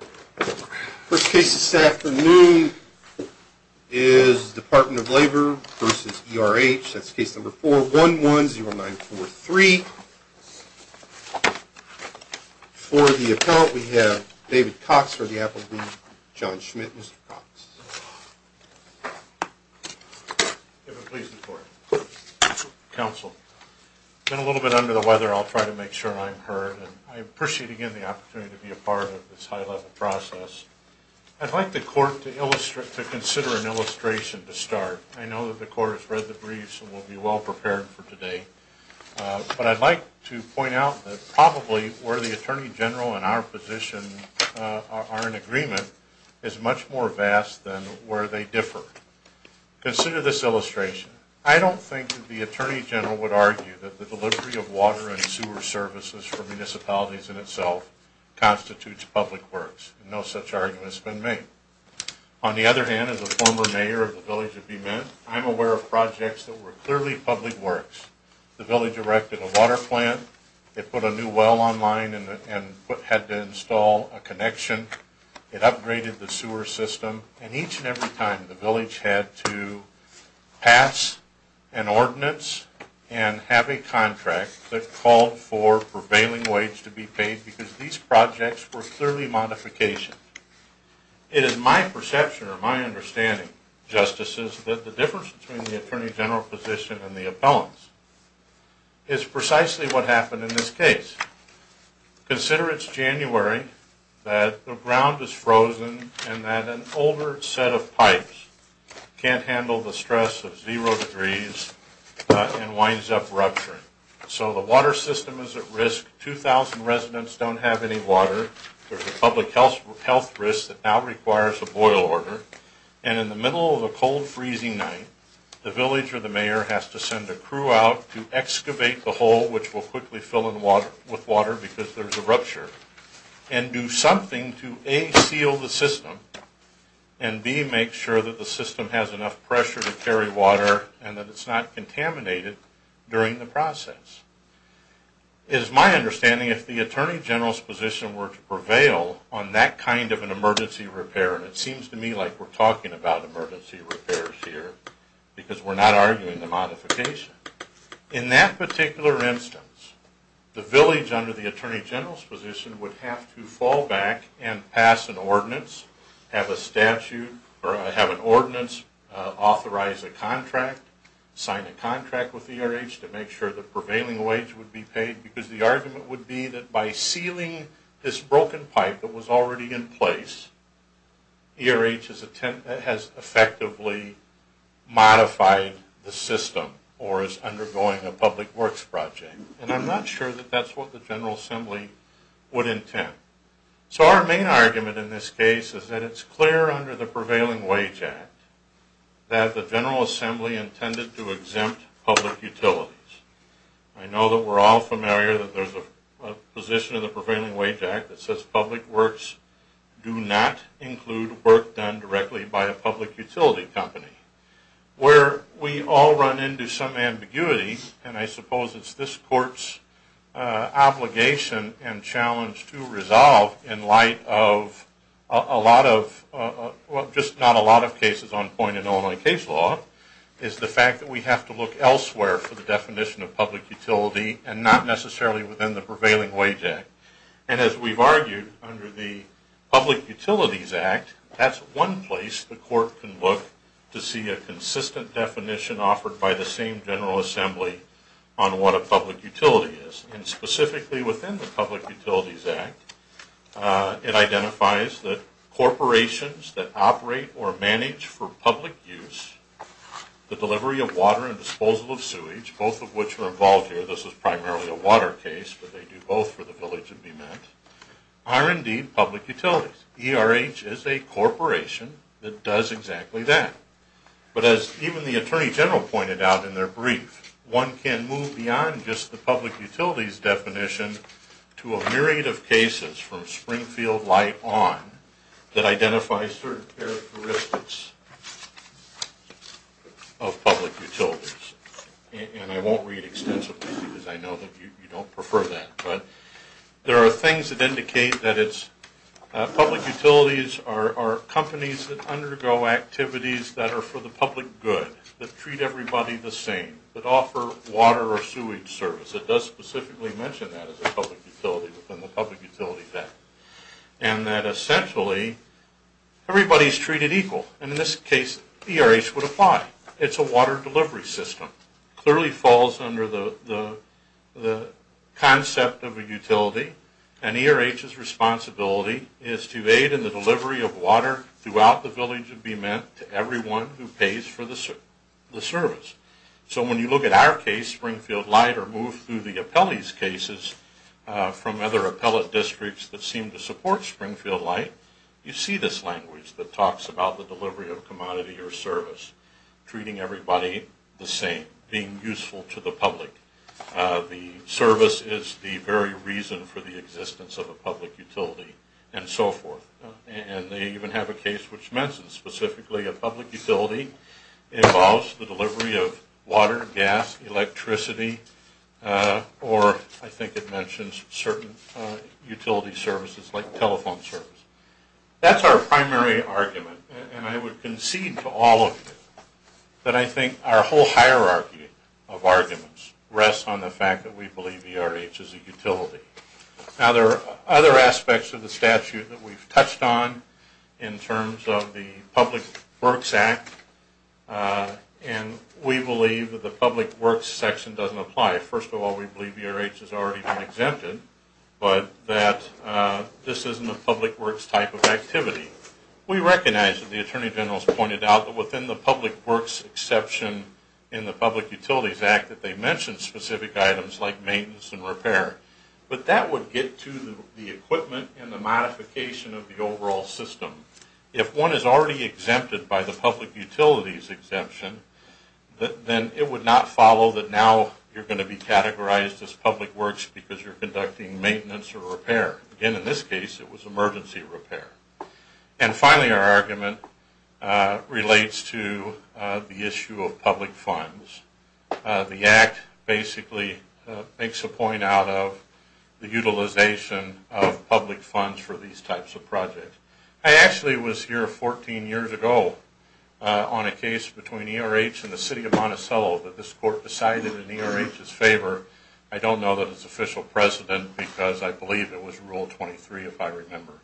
First case this afternoon is Department of Labor v. E.R.H. That's case number 4110943. For the appellant, we have David Cox for the appellate. John Schmidt, Mr. Cox. If it pleases the court. Counsel. Counsel. I've been a little bit under the weather. I'll try to make sure I'm heard. I appreciate, again, the opportunity to be a part of this high-level process. I'd like the court to consider an illustration to start. I know that the court has read the briefs and will be well prepared for today. But I'd like to point out that probably where the Attorney General and our position are in agreement is much more vast than where they differ. Consider this illustration. I don't think that the Attorney General would argue that the delivery of water and sewer services for municipalities in itself constitutes public works. No such argument has been made. On the other hand, as a former mayor of the village of Beeman, I'm aware of projects that were clearly public works. The village erected a water plant. It put a new well online and had to install a connection. It upgraded the sewer system. And each and every time, the village had to pass an ordinance and have a contract that called for prevailing wage to be paid because these projects were clearly modifications. It is my perception or my understanding, Justices, that the difference between the Attorney General position and the appellants is precisely what happened in this case. Consider it's January, that the ground is frozen, and that an older set of pipes can't handle the stress of zero degrees and winds up rupturing. So the water system is at risk. 2,000 residents don't have any water. There's a public health risk that now requires a boil order. And in the middle of a cold, freezing night, the village or the mayor has to send a crew out to excavate the hole, which will quickly fill with water because there's a rupture, and do something to A, seal the system, and B, make sure that the system has enough pressure to carry water and that it's not contaminated during the process. It is my understanding, if the Attorney General's position were to prevail on that kind of an emergency repair, and it seems to me like we're talking about emergency repairs here because we're not arguing the modification, in that particular instance, the village under the Attorney General's position would have to fall back and pass an ordinance, have a statute, or have an ordinance, authorize a contract, sign a contract with ERH to make sure the prevailing wage would be paid, because the argument would be that by sealing this broken pipe that was already in place, ERH has effectively modified the system, or is undergoing a public works project. And I'm not sure that that's what the General Assembly would intend. So our main argument in this case is that it's clear under the Prevailing Wage Act that the General Assembly intended to exempt public utilities. I know that we're all familiar that there's a position in the Prevailing Wage Act that says public works do not include work done directly by a public utility company. Where we all run into some ambiguity, and I suppose it's this Court's obligation and challenge to resolve in light of a lot of, well, just not a lot of cases on point in Illinois case law, is the fact that we have to look elsewhere for the definition of public utility and not necessarily within the Prevailing Wage Act. And as we've argued, under the Public Utilities Act, that's one place the Court can look to see a consistent definition offered by the same General Assembly on what a public utility is. And specifically within the Public Utilities Act, it identifies that corporations that operate or manage for public use, the delivery of water and disposal of sewage, both of which are involved here, this is primarily a water case, but they do both for the village and be met, are indeed public utilities. ERH is a corporation that does exactly that. But as even the Attorney General pointed out in their brief, one can move beyond just the public utilities definition to a myriad of cases from Springfield light on that identify certain characteristics of public utilities. And I won't read extensively because I know that you don't prefer that, but there are things that indicate that public utilities are companies that undergo activities that are for the public good, that treat everybody the same, that offer water or sewage service. It does specifically mention that as a public utility within the Public Utilities Act. And that essentially, everybody is treated equal. And in this case, ERH would apply. It's a water delivery system. It clearly falls under the concept of a utility. And ERH's responsibility is to aid in the delivery of water throughout the village and be met to everyone who pays for the service. So when you look at our case, Springfield Light, or move through the appellee's cases from other appellate districts that seem to support Springfield Light, you see this language that talks about the delivery of commodity or service, treating everybody the same, being useful to the public. The service is the very reason for the existence of a public utility, and so forth. And they even have a case which mentions specifically a public utility involves the delivery of water, gas, electricity, or I think it mentions certain utility services like telephone service. That's our primary argument. And I would concede to all of you that I think our whole hierarchy of arguments rests on the fact that we believe ERH is a utility. Now, there are other aspects of the statute that we've touched on in terms of the Public Works Act. And we believe that the Public Works section doesn't apply. First of all, we believe ERH has already been exempted, but that this isn't a Public Works type of activity. We recognize that the Attorney General has pointed out that within the Public Works exception in the Public Utilities Act that they mention specific items like maintenance and repair. But that would get to the equipment and the modification of the overall system. If one is already exempted by the Public Utilities exemption, then it would not follow that now you're going to be categorized as Public Works because you're conducting maintenance or repair. Again, in this case, it was emergency repair. And finally, our argument relates to the issue of public funds. The Act basically makes a point out of the utilization of public funds for these types of projects. I actually was here 14 years ago on a case between ERH and the City of Monticello that this court decided in ERH's favor. I don't know that it's official precedent because I believe it was Rule 23, if I remember.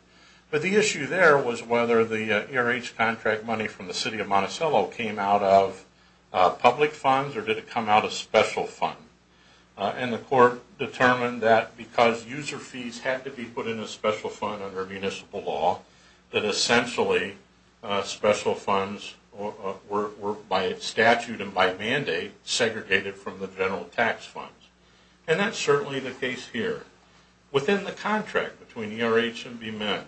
But the issue there was whether the ERH contract money from the City of Monticello came out of public funds or did it come out of special funds. And the court determined that because user fees had to be put in a special fund under municipal law, that essentially special funds were, by statute and by mandate, segregated from the general tax funds. And that's certainly the case here. Within the contract between ERH and BMIN,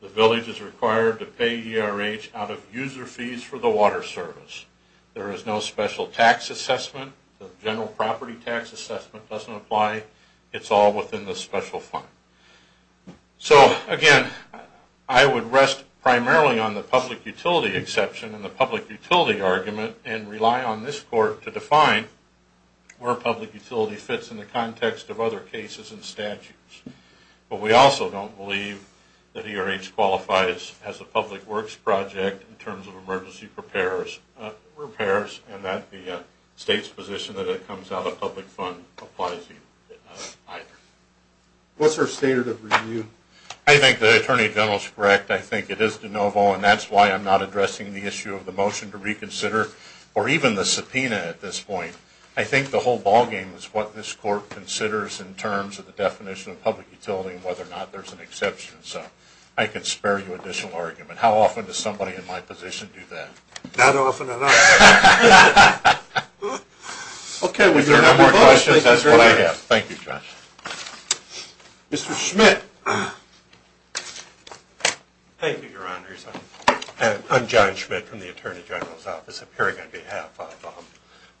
the village is required to pay ERH out of user fees for the water service. There is no special tax assessment. The general property tax assessment doesn't apply. It's all within the special fund. So, again, I would rest primarily on the public utility exception and the public utility argument and rely on this court to define where public utility fits in the context of other cases and statutes. But we also don't believe that ERH qualifies as a public works project in terms of emergency repairs and that the state's position that it comes out of public funds applies either. What's our standard of review? I think the Attorney General is correct. I think it is de novo, and that's why I'm not addressing the issue of the motion to reconsider or even the subpoena at this point. I think the whole ballgame is what this court considers in terms of the definition of public utility and whether or not there's an exception. So I can spare you additional argument. How often does somebody in my position do that? Not often enough. Okay. If there are no more questions, that's what I have. Thank you, Judge. Mr. Schmidt. Thank you, Your Honors. I'm John Schmidt from the Attorney General's Office, appearing on behalf of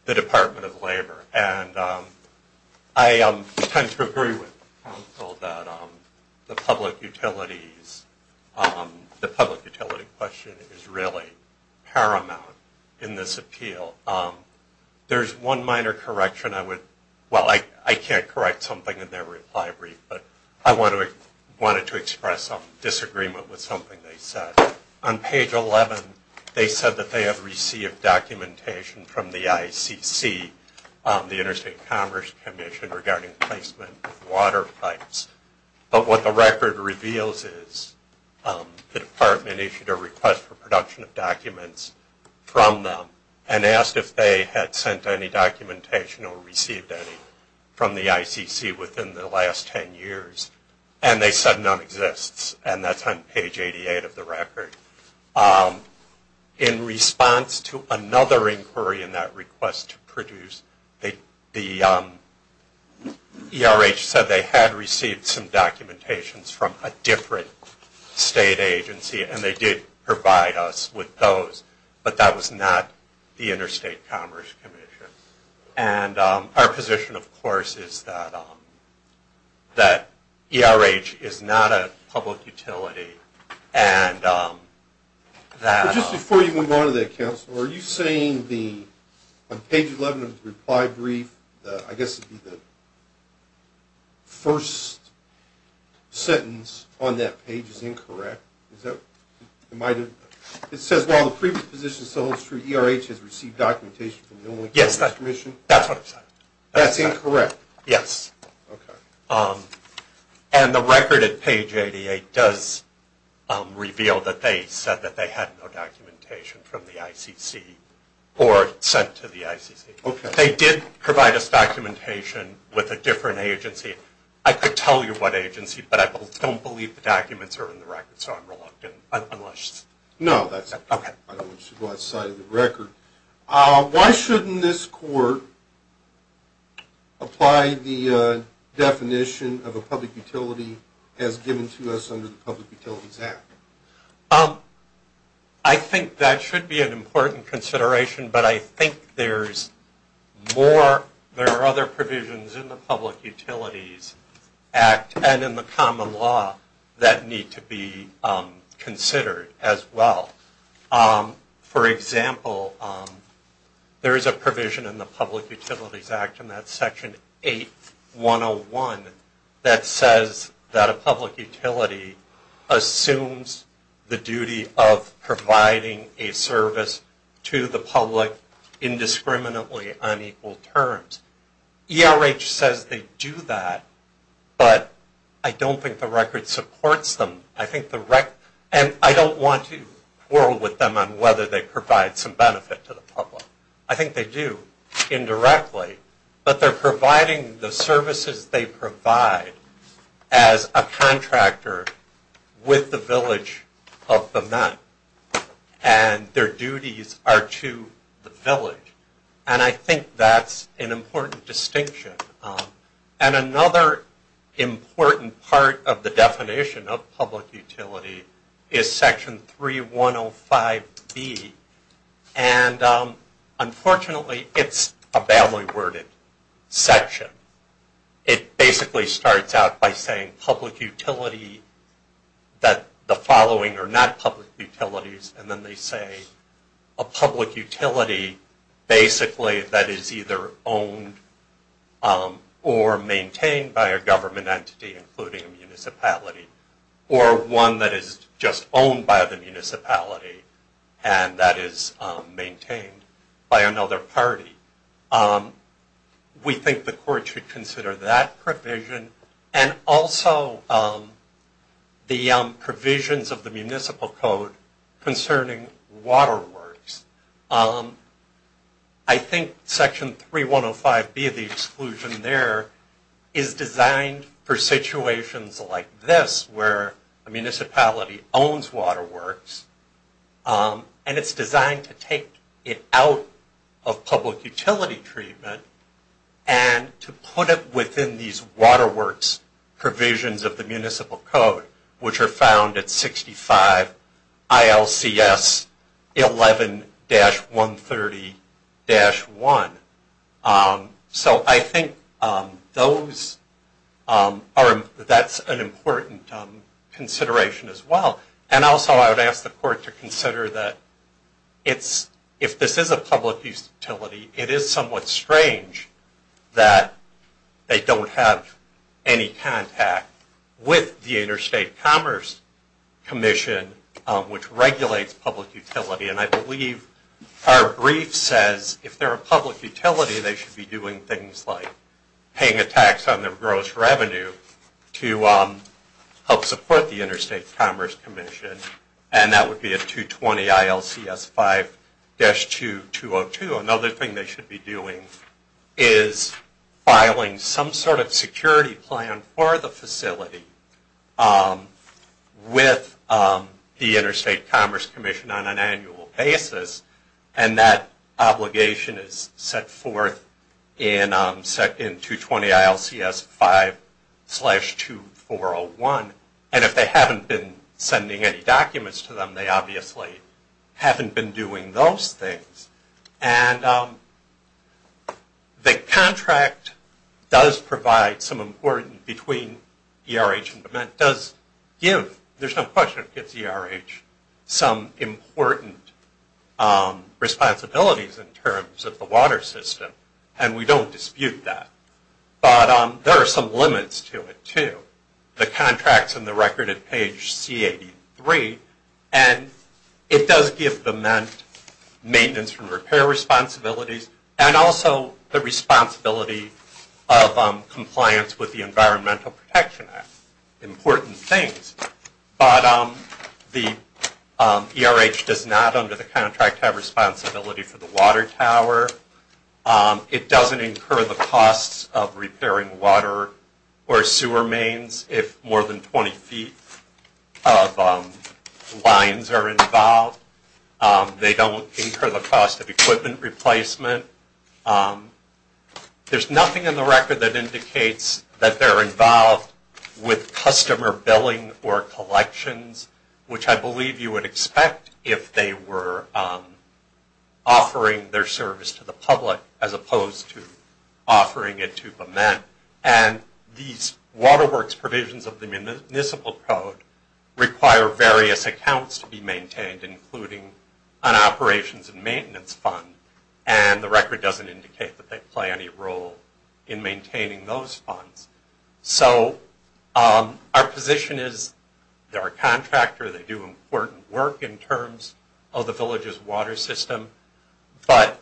the Department of Labor. And I tend to agree with counsel that the public utility question is really paramount in this appeal. There's one minor correction I would – well, I can't correct something in their reply brief, but I wanted to express some disagreement with something they said. On page 11, they said that they have received documentation from the ICC, the Interstate Commerce Commission, regarding placement of water pipes. But what the record reveals is the Department issued a request for production of documents from them and asked if they had sent any documentation or received any from the ICC within the last 10 years. And they said none exists. And that's on page 88 of the record. In response to another inquiry in that request to produce, the ERH said they had received some documentations from a different state agency, and they did provide us with those. But that was not the Interstate Commerce Commission. And our position, of course, is that ERH is not a public utility. Just before you move on to that, counsel, are you saying on page 11 of the reply brief, I guess the first sentence on that page is incorrect? It says, while the previous position still holds true, ERH has received documentation from the Interstate Commerce Commission? Yes, that's what I said. That's incorrect? Yes. Okay. And the record at page 88 does reveal that they said that they had no documentation from the ICC or sent to the ICC. Okay. They did provide us documentation with a different agency. I could tell you what agency, but I don't believe the documents are in the record, so I'm reluctant. No, that's it. Okay. I don't want you to go outside of the record. Why shouldn't this court apply the definition of a public utility as given to us under the Public Utilities Act? I think that should be an important consideration, but I think there are other provisions in the Public Utilities Act and in the common law that need to be considered as well. For example, there is a provision in the Public Utilities Act, and that's section 8101, that says that a public utility assumes the duty of providing a service to the public indiscriminately on equal terms. ERH says they do that, but I don't think the record supports them. And I don't want to quarrel with them on whether they provide some benefit to the public. I think they do, indirectly. But they're providing the services they provide as a contractor with the village of the men, and their duties are to the village. And I think that's an important distinction. And another important part of the definition of public utility is section 3105B. And unfortunately, it's a badly worded section. It basically starts out by saying public utility, that the following are not public utilities, and then they say a public utility basically that is either owned or maintained by a government entity, including a municipality, or one that is just owned by the municipality, and that is maintained by another party. We think the court should consider that provision, and also the provisions of the Municipal Code concerning waterworks. I think section 3105B, the exclusion there, is designed for situations like this, where a municipality owns waterworks, and it's designed to take it out of public utility treatment, and to put it within these waterworks provisions of the Municipal Code, which are found at 65 ILCS 11-130-1. So I think that's an important consideration as well. And also I would ask the court to consider that if this is a public utility, it is somewhat strange that they don't have any contact with the Interstate Commerce Commission, which regulates public utility. And I believe our brief says if they're a public utility, they should be doing things like paying a tax on their gross revenue to help support the Interstate Commerce Commission, and that would be at 220 ILCS 5-2202. Another thing they should be doing is filing some sort of security plan for the facility with the Interstate Commerce Commission on an annual basis, and that obligation is set forth in 220 ILCS 5-2401. And if they haven't been sending any documents to them, they obviously haven't been doing those things. And the contract does provide some importance between ERH and Dement, does give, there's no question it gives ERH some important responsibilities in terms of the water system, and we don't dispute that. But there are some limits to it too. The contract's on the record at page C83, and it does give Dement maintenance and repair responsibilities and also the responsibility of compliance with the Environmental Protection Act, important things. But the ERH does not, under the contract, have responsibility for the water tower. It doesn't incur the costs of repairing water or sewer mains if more than 20 feet of lines are involved. They don't incur the cost of equipment replacement. There's nothing in the record that indicates that they're involved with customer billing or collections, which I believe you would expect if they were offering their service to the public as opposed to offering it to Dement. And these Water Works provisions of the Municipal Code require various accounts to be maintained, including an operations and maintenance fund, and the record doesn't indicate that they play any role in maintaining those funds. So our position is they're a contractor, they do important work in terms of the village's water system, but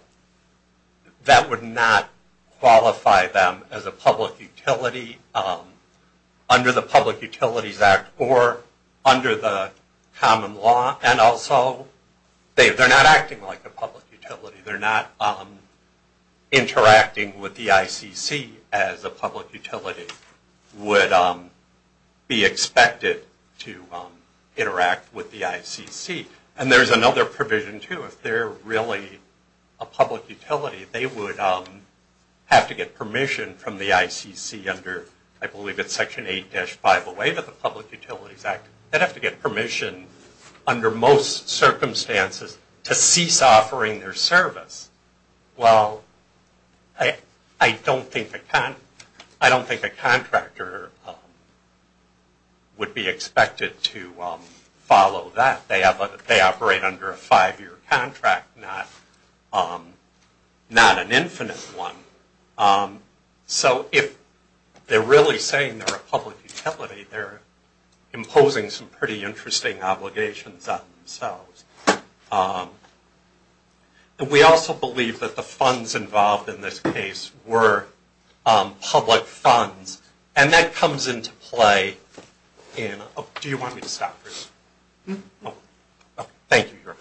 that would not qualify them as a public utility under the Public Utilities Act or under the common law, and also they're not acting like a public utility. They're not interacting with the ICC as a public utility would be expected to interact with the ICC. And there's another provision, too. If they're really a public utility, they would have to get permission from the ICC under, I believe it's Section 8-5A of the Public Utilities Act, they'd have to get permission under most circumstances to cease offering their service. Well, I don't think a contractor would be expected to follow that. They operate under a five-year contract, not an infinite one. So if they're really saying they're a public utility, they're imposing some pretty interesting obligations on themselves. We also believe that the funds involved in this case were public funds, and that comes into play in... Do you want me to stop? Thank you.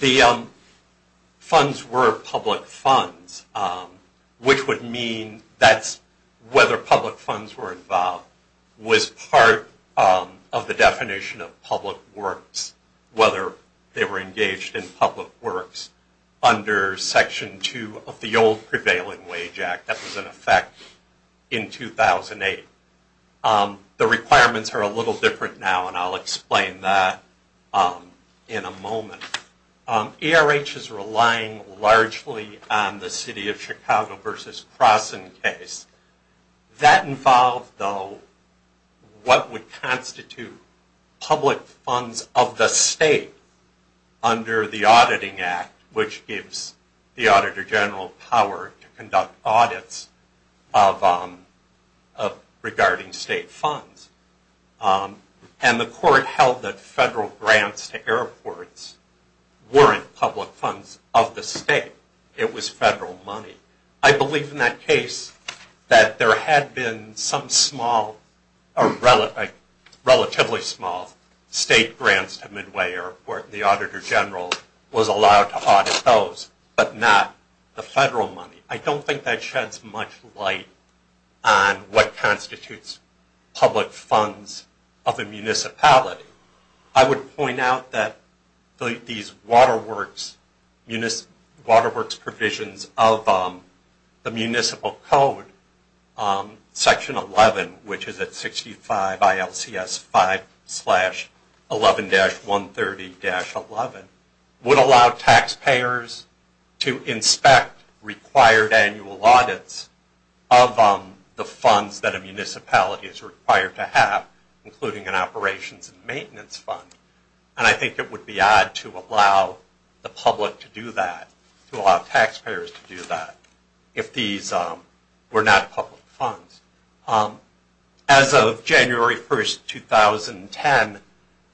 The funds were public funds, which would mean that whether public funds were involved was part of the definition of public works, whether they were engaged in public works under Section 2 of the old Prevailing Wage Act that was in effect in 2008. The requirements are a little different now, and I'll explain that in a moment. ERH is relying largely on the City of Chicago v. Croson case. That involved, though, what would constitute public funds of the state under the Auditing Act, which gives the Auditor General power to conduct audits regarding state funds. And the court held that federal grants to airports weren't public funds of the state. It was federal money. I believe in that case that there had been some relatively small state grants to Midway Airport, and the Auditor General was allowed to audit those, but not the federal money. I don't think that sheds much light on what constitutes public funds of a municipality. I would point out that these Water Works provisions of the Municipal Code, Section 11, which is at 65 ILCS 5-11-130-11, would allow taxpayers to inspect required annual audits of the funds that a municipality is required to have, including an operations and maintenance fund. And I think it would be odd to allow the public to do that, to allow taxpayers to do that, if these were not public funds. As of January 1, 2010,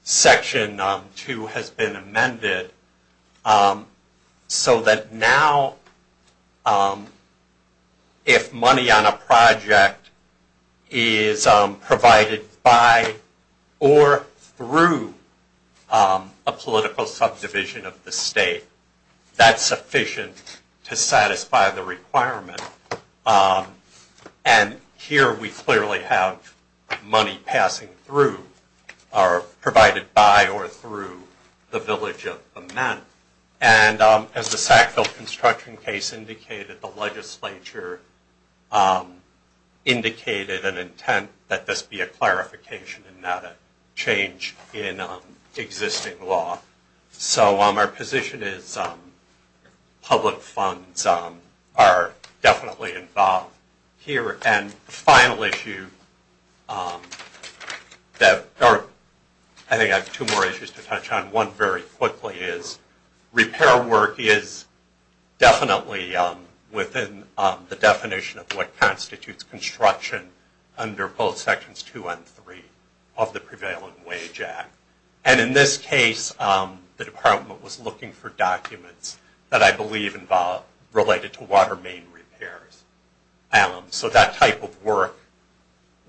Section 2 has been amended so that now if money on a project is provided by or through a political subdivision of the state, that's sufficient to satisfy the requirement. And here we clearly have money passing through or provided by or through the Village of the Men. And as the Sackville construction case indicated, the legislature indicated an intent that this be a clarification and not a change in existing law. So our position is public funds are definitely involved here. And the final issue, I think I have two more issues to touch on. One very quickly is repair work is definitely within the definition of what constitutes construction under both Sections 2 and 3 of the Prevalent Wage Act. And in this case, the Department was looking for documents that I believe related to water main repairs. So that type of work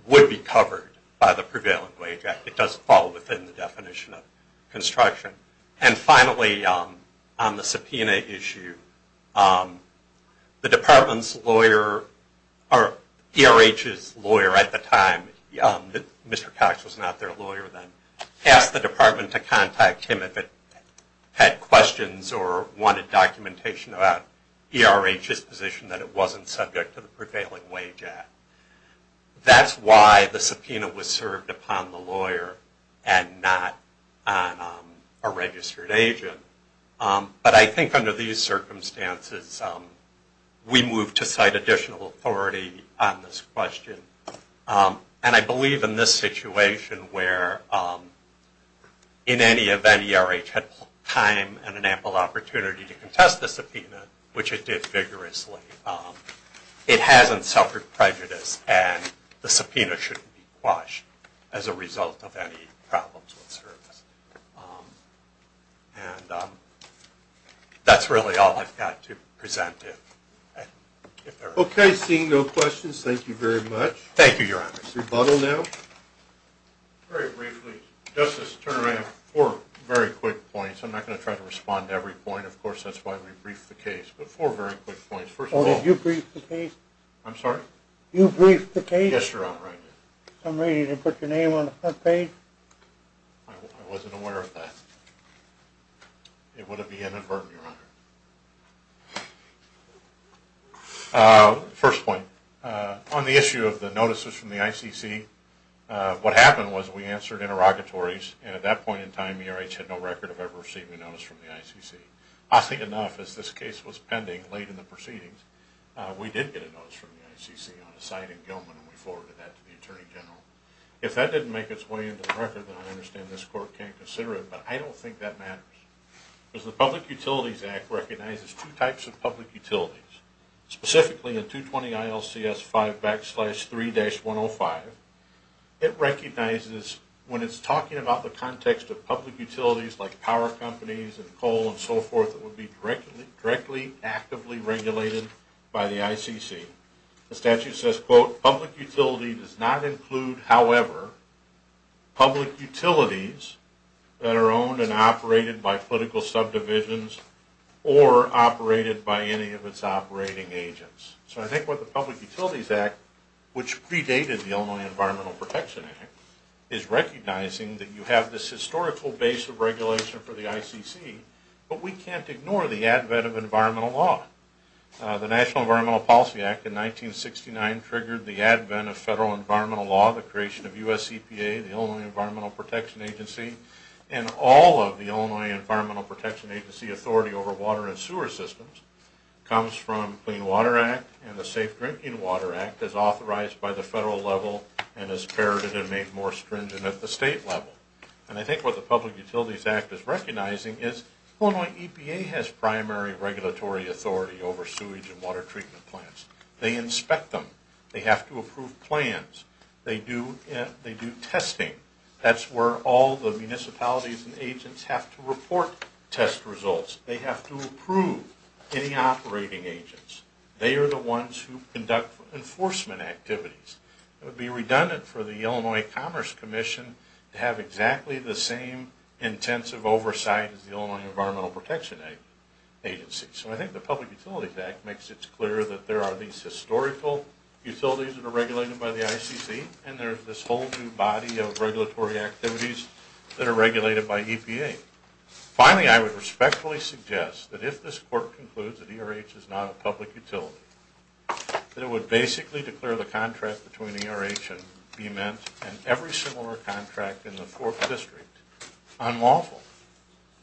would be covered by the Prevalent Wage Act. It does fall within the definition of construction. And finally, on the subpoena issue, the Department's lawyer, or ERH's lawyer at the time, Mr. Cox was not their lawyer then, asked the Department to contact him if it had questions or wanted documentation about ERH's position that it wasn't subject to the Prevalent Wage Act. That's why the subpoena was served upon the lawyer and not on a registered agent. But I think under these circumstances, we move to cite additional authority on this question. And I believe in this situation where in any event ERH had time and an ample opportunity to contest the subpoena, which it did vigorously, it hasn't suffered prejudice and the subpoena shouldn't be quashed as a result of any problems with service. And that's really all I've got to present to you. Okay, seeing no questions, thank you very much. Thank you, Your Honor. Rebuttal now. Very briefly, Justice Turner, I have four very quick points. I'm not going to try to respond to every point. Of course, that's why we briefed the case. But four very quick points. First of all— Oh, did you brief the case? I'm sorry? You briefed the case? Yes, Your Honor, I did. Some reason you didn't put your name on the front page? I wasn't aware of that. It would have been inadvertent, Your Honor. First point, on the issue of the notices from the ICC, what happened was we answered interrogatories and at that point in time ERH had no record of ever receiving a notice from the ICC. Oddly enough, as this case was pending late in the proceedings, we did get a notice from the ICC on a site in Gilman and we forwarded that to the Attorney General. If that didn't make its way into the record, then I understand this Court can't consider it, but I don't think that matters. Because the Public Utilities Act recognizes two types of public utilities. Specifically, in 220-ILCS-5-3-105, it recognizes when it's talking about the context of public utilities like power companies and coal and so forth that would be directly, actively regulated by the ICC. The statute says, quote, public utility does not include, however, public utilities that are owned and operated by political subdivisions or operated by any of its operating agents. So I think what the Public Utilities Act, which predated the Illinois Environmental Protection Act, is recognizing that you have this historical base of regulation for the ICC, but we can't ignore the advent of environmental law. The National Environmental Policy Act in 1969 triggered the advent of federal environmental law, the creation of US EPA, the Illinois Environmental Protection Agency, and all of the Illinois Environmental Protection Agency authority over water and sewer systems comes from Clean Water Act and the Safe Drinking Water Act is authorized by the federal level and is parodied and made more stringent at the state level. And I think what the Public Utilities Act is recognizing is Illinois EPA has primary regulatory authority over sewage and water treatment plants. They inspect them. They have to approve plans. They do testing. That's where all the municipalities and agents have to report test results. They have to approve any operating agents. They are the ones who conduct enforcement activities. It would be redundant for the Illinois Commerce Commission to have exactly the same intensive oversight as the Illinois Environmental Protection Agency. So I think the Public Utilities Act makes it clear that there are these historical utilities that are regulated by the ICC and there's this whole new body of regulatory activities that are regulated by EPA. Finally, I would respectfully suggest that if this court concludes that ERH is not a public utility, that it would basically declare the contract between ERH and BEMET and every similar contract in the Fourth District unlawful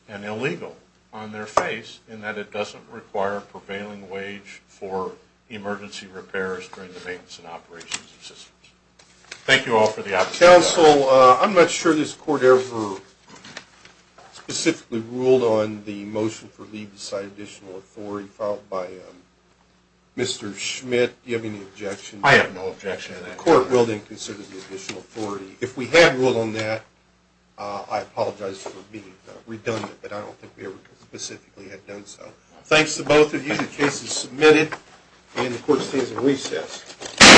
and illegal on their face in that it doesn't require a prevailing wage for emergency repairs during the maintenance and operations of systems. Thank you all for the opportunity. Counsel, I'm not sure this court ever specifically ruled on the motion for leave beside additional authority filed by Mr. Schmidt. Do you have any objection? I have no objection to that. The court will then consider the additional authority. If we had ruled on that, I apologize for being redundant, but I don't think we ever specifically had done so. Thanks to both of you. The case is submitted and the court stands at recess.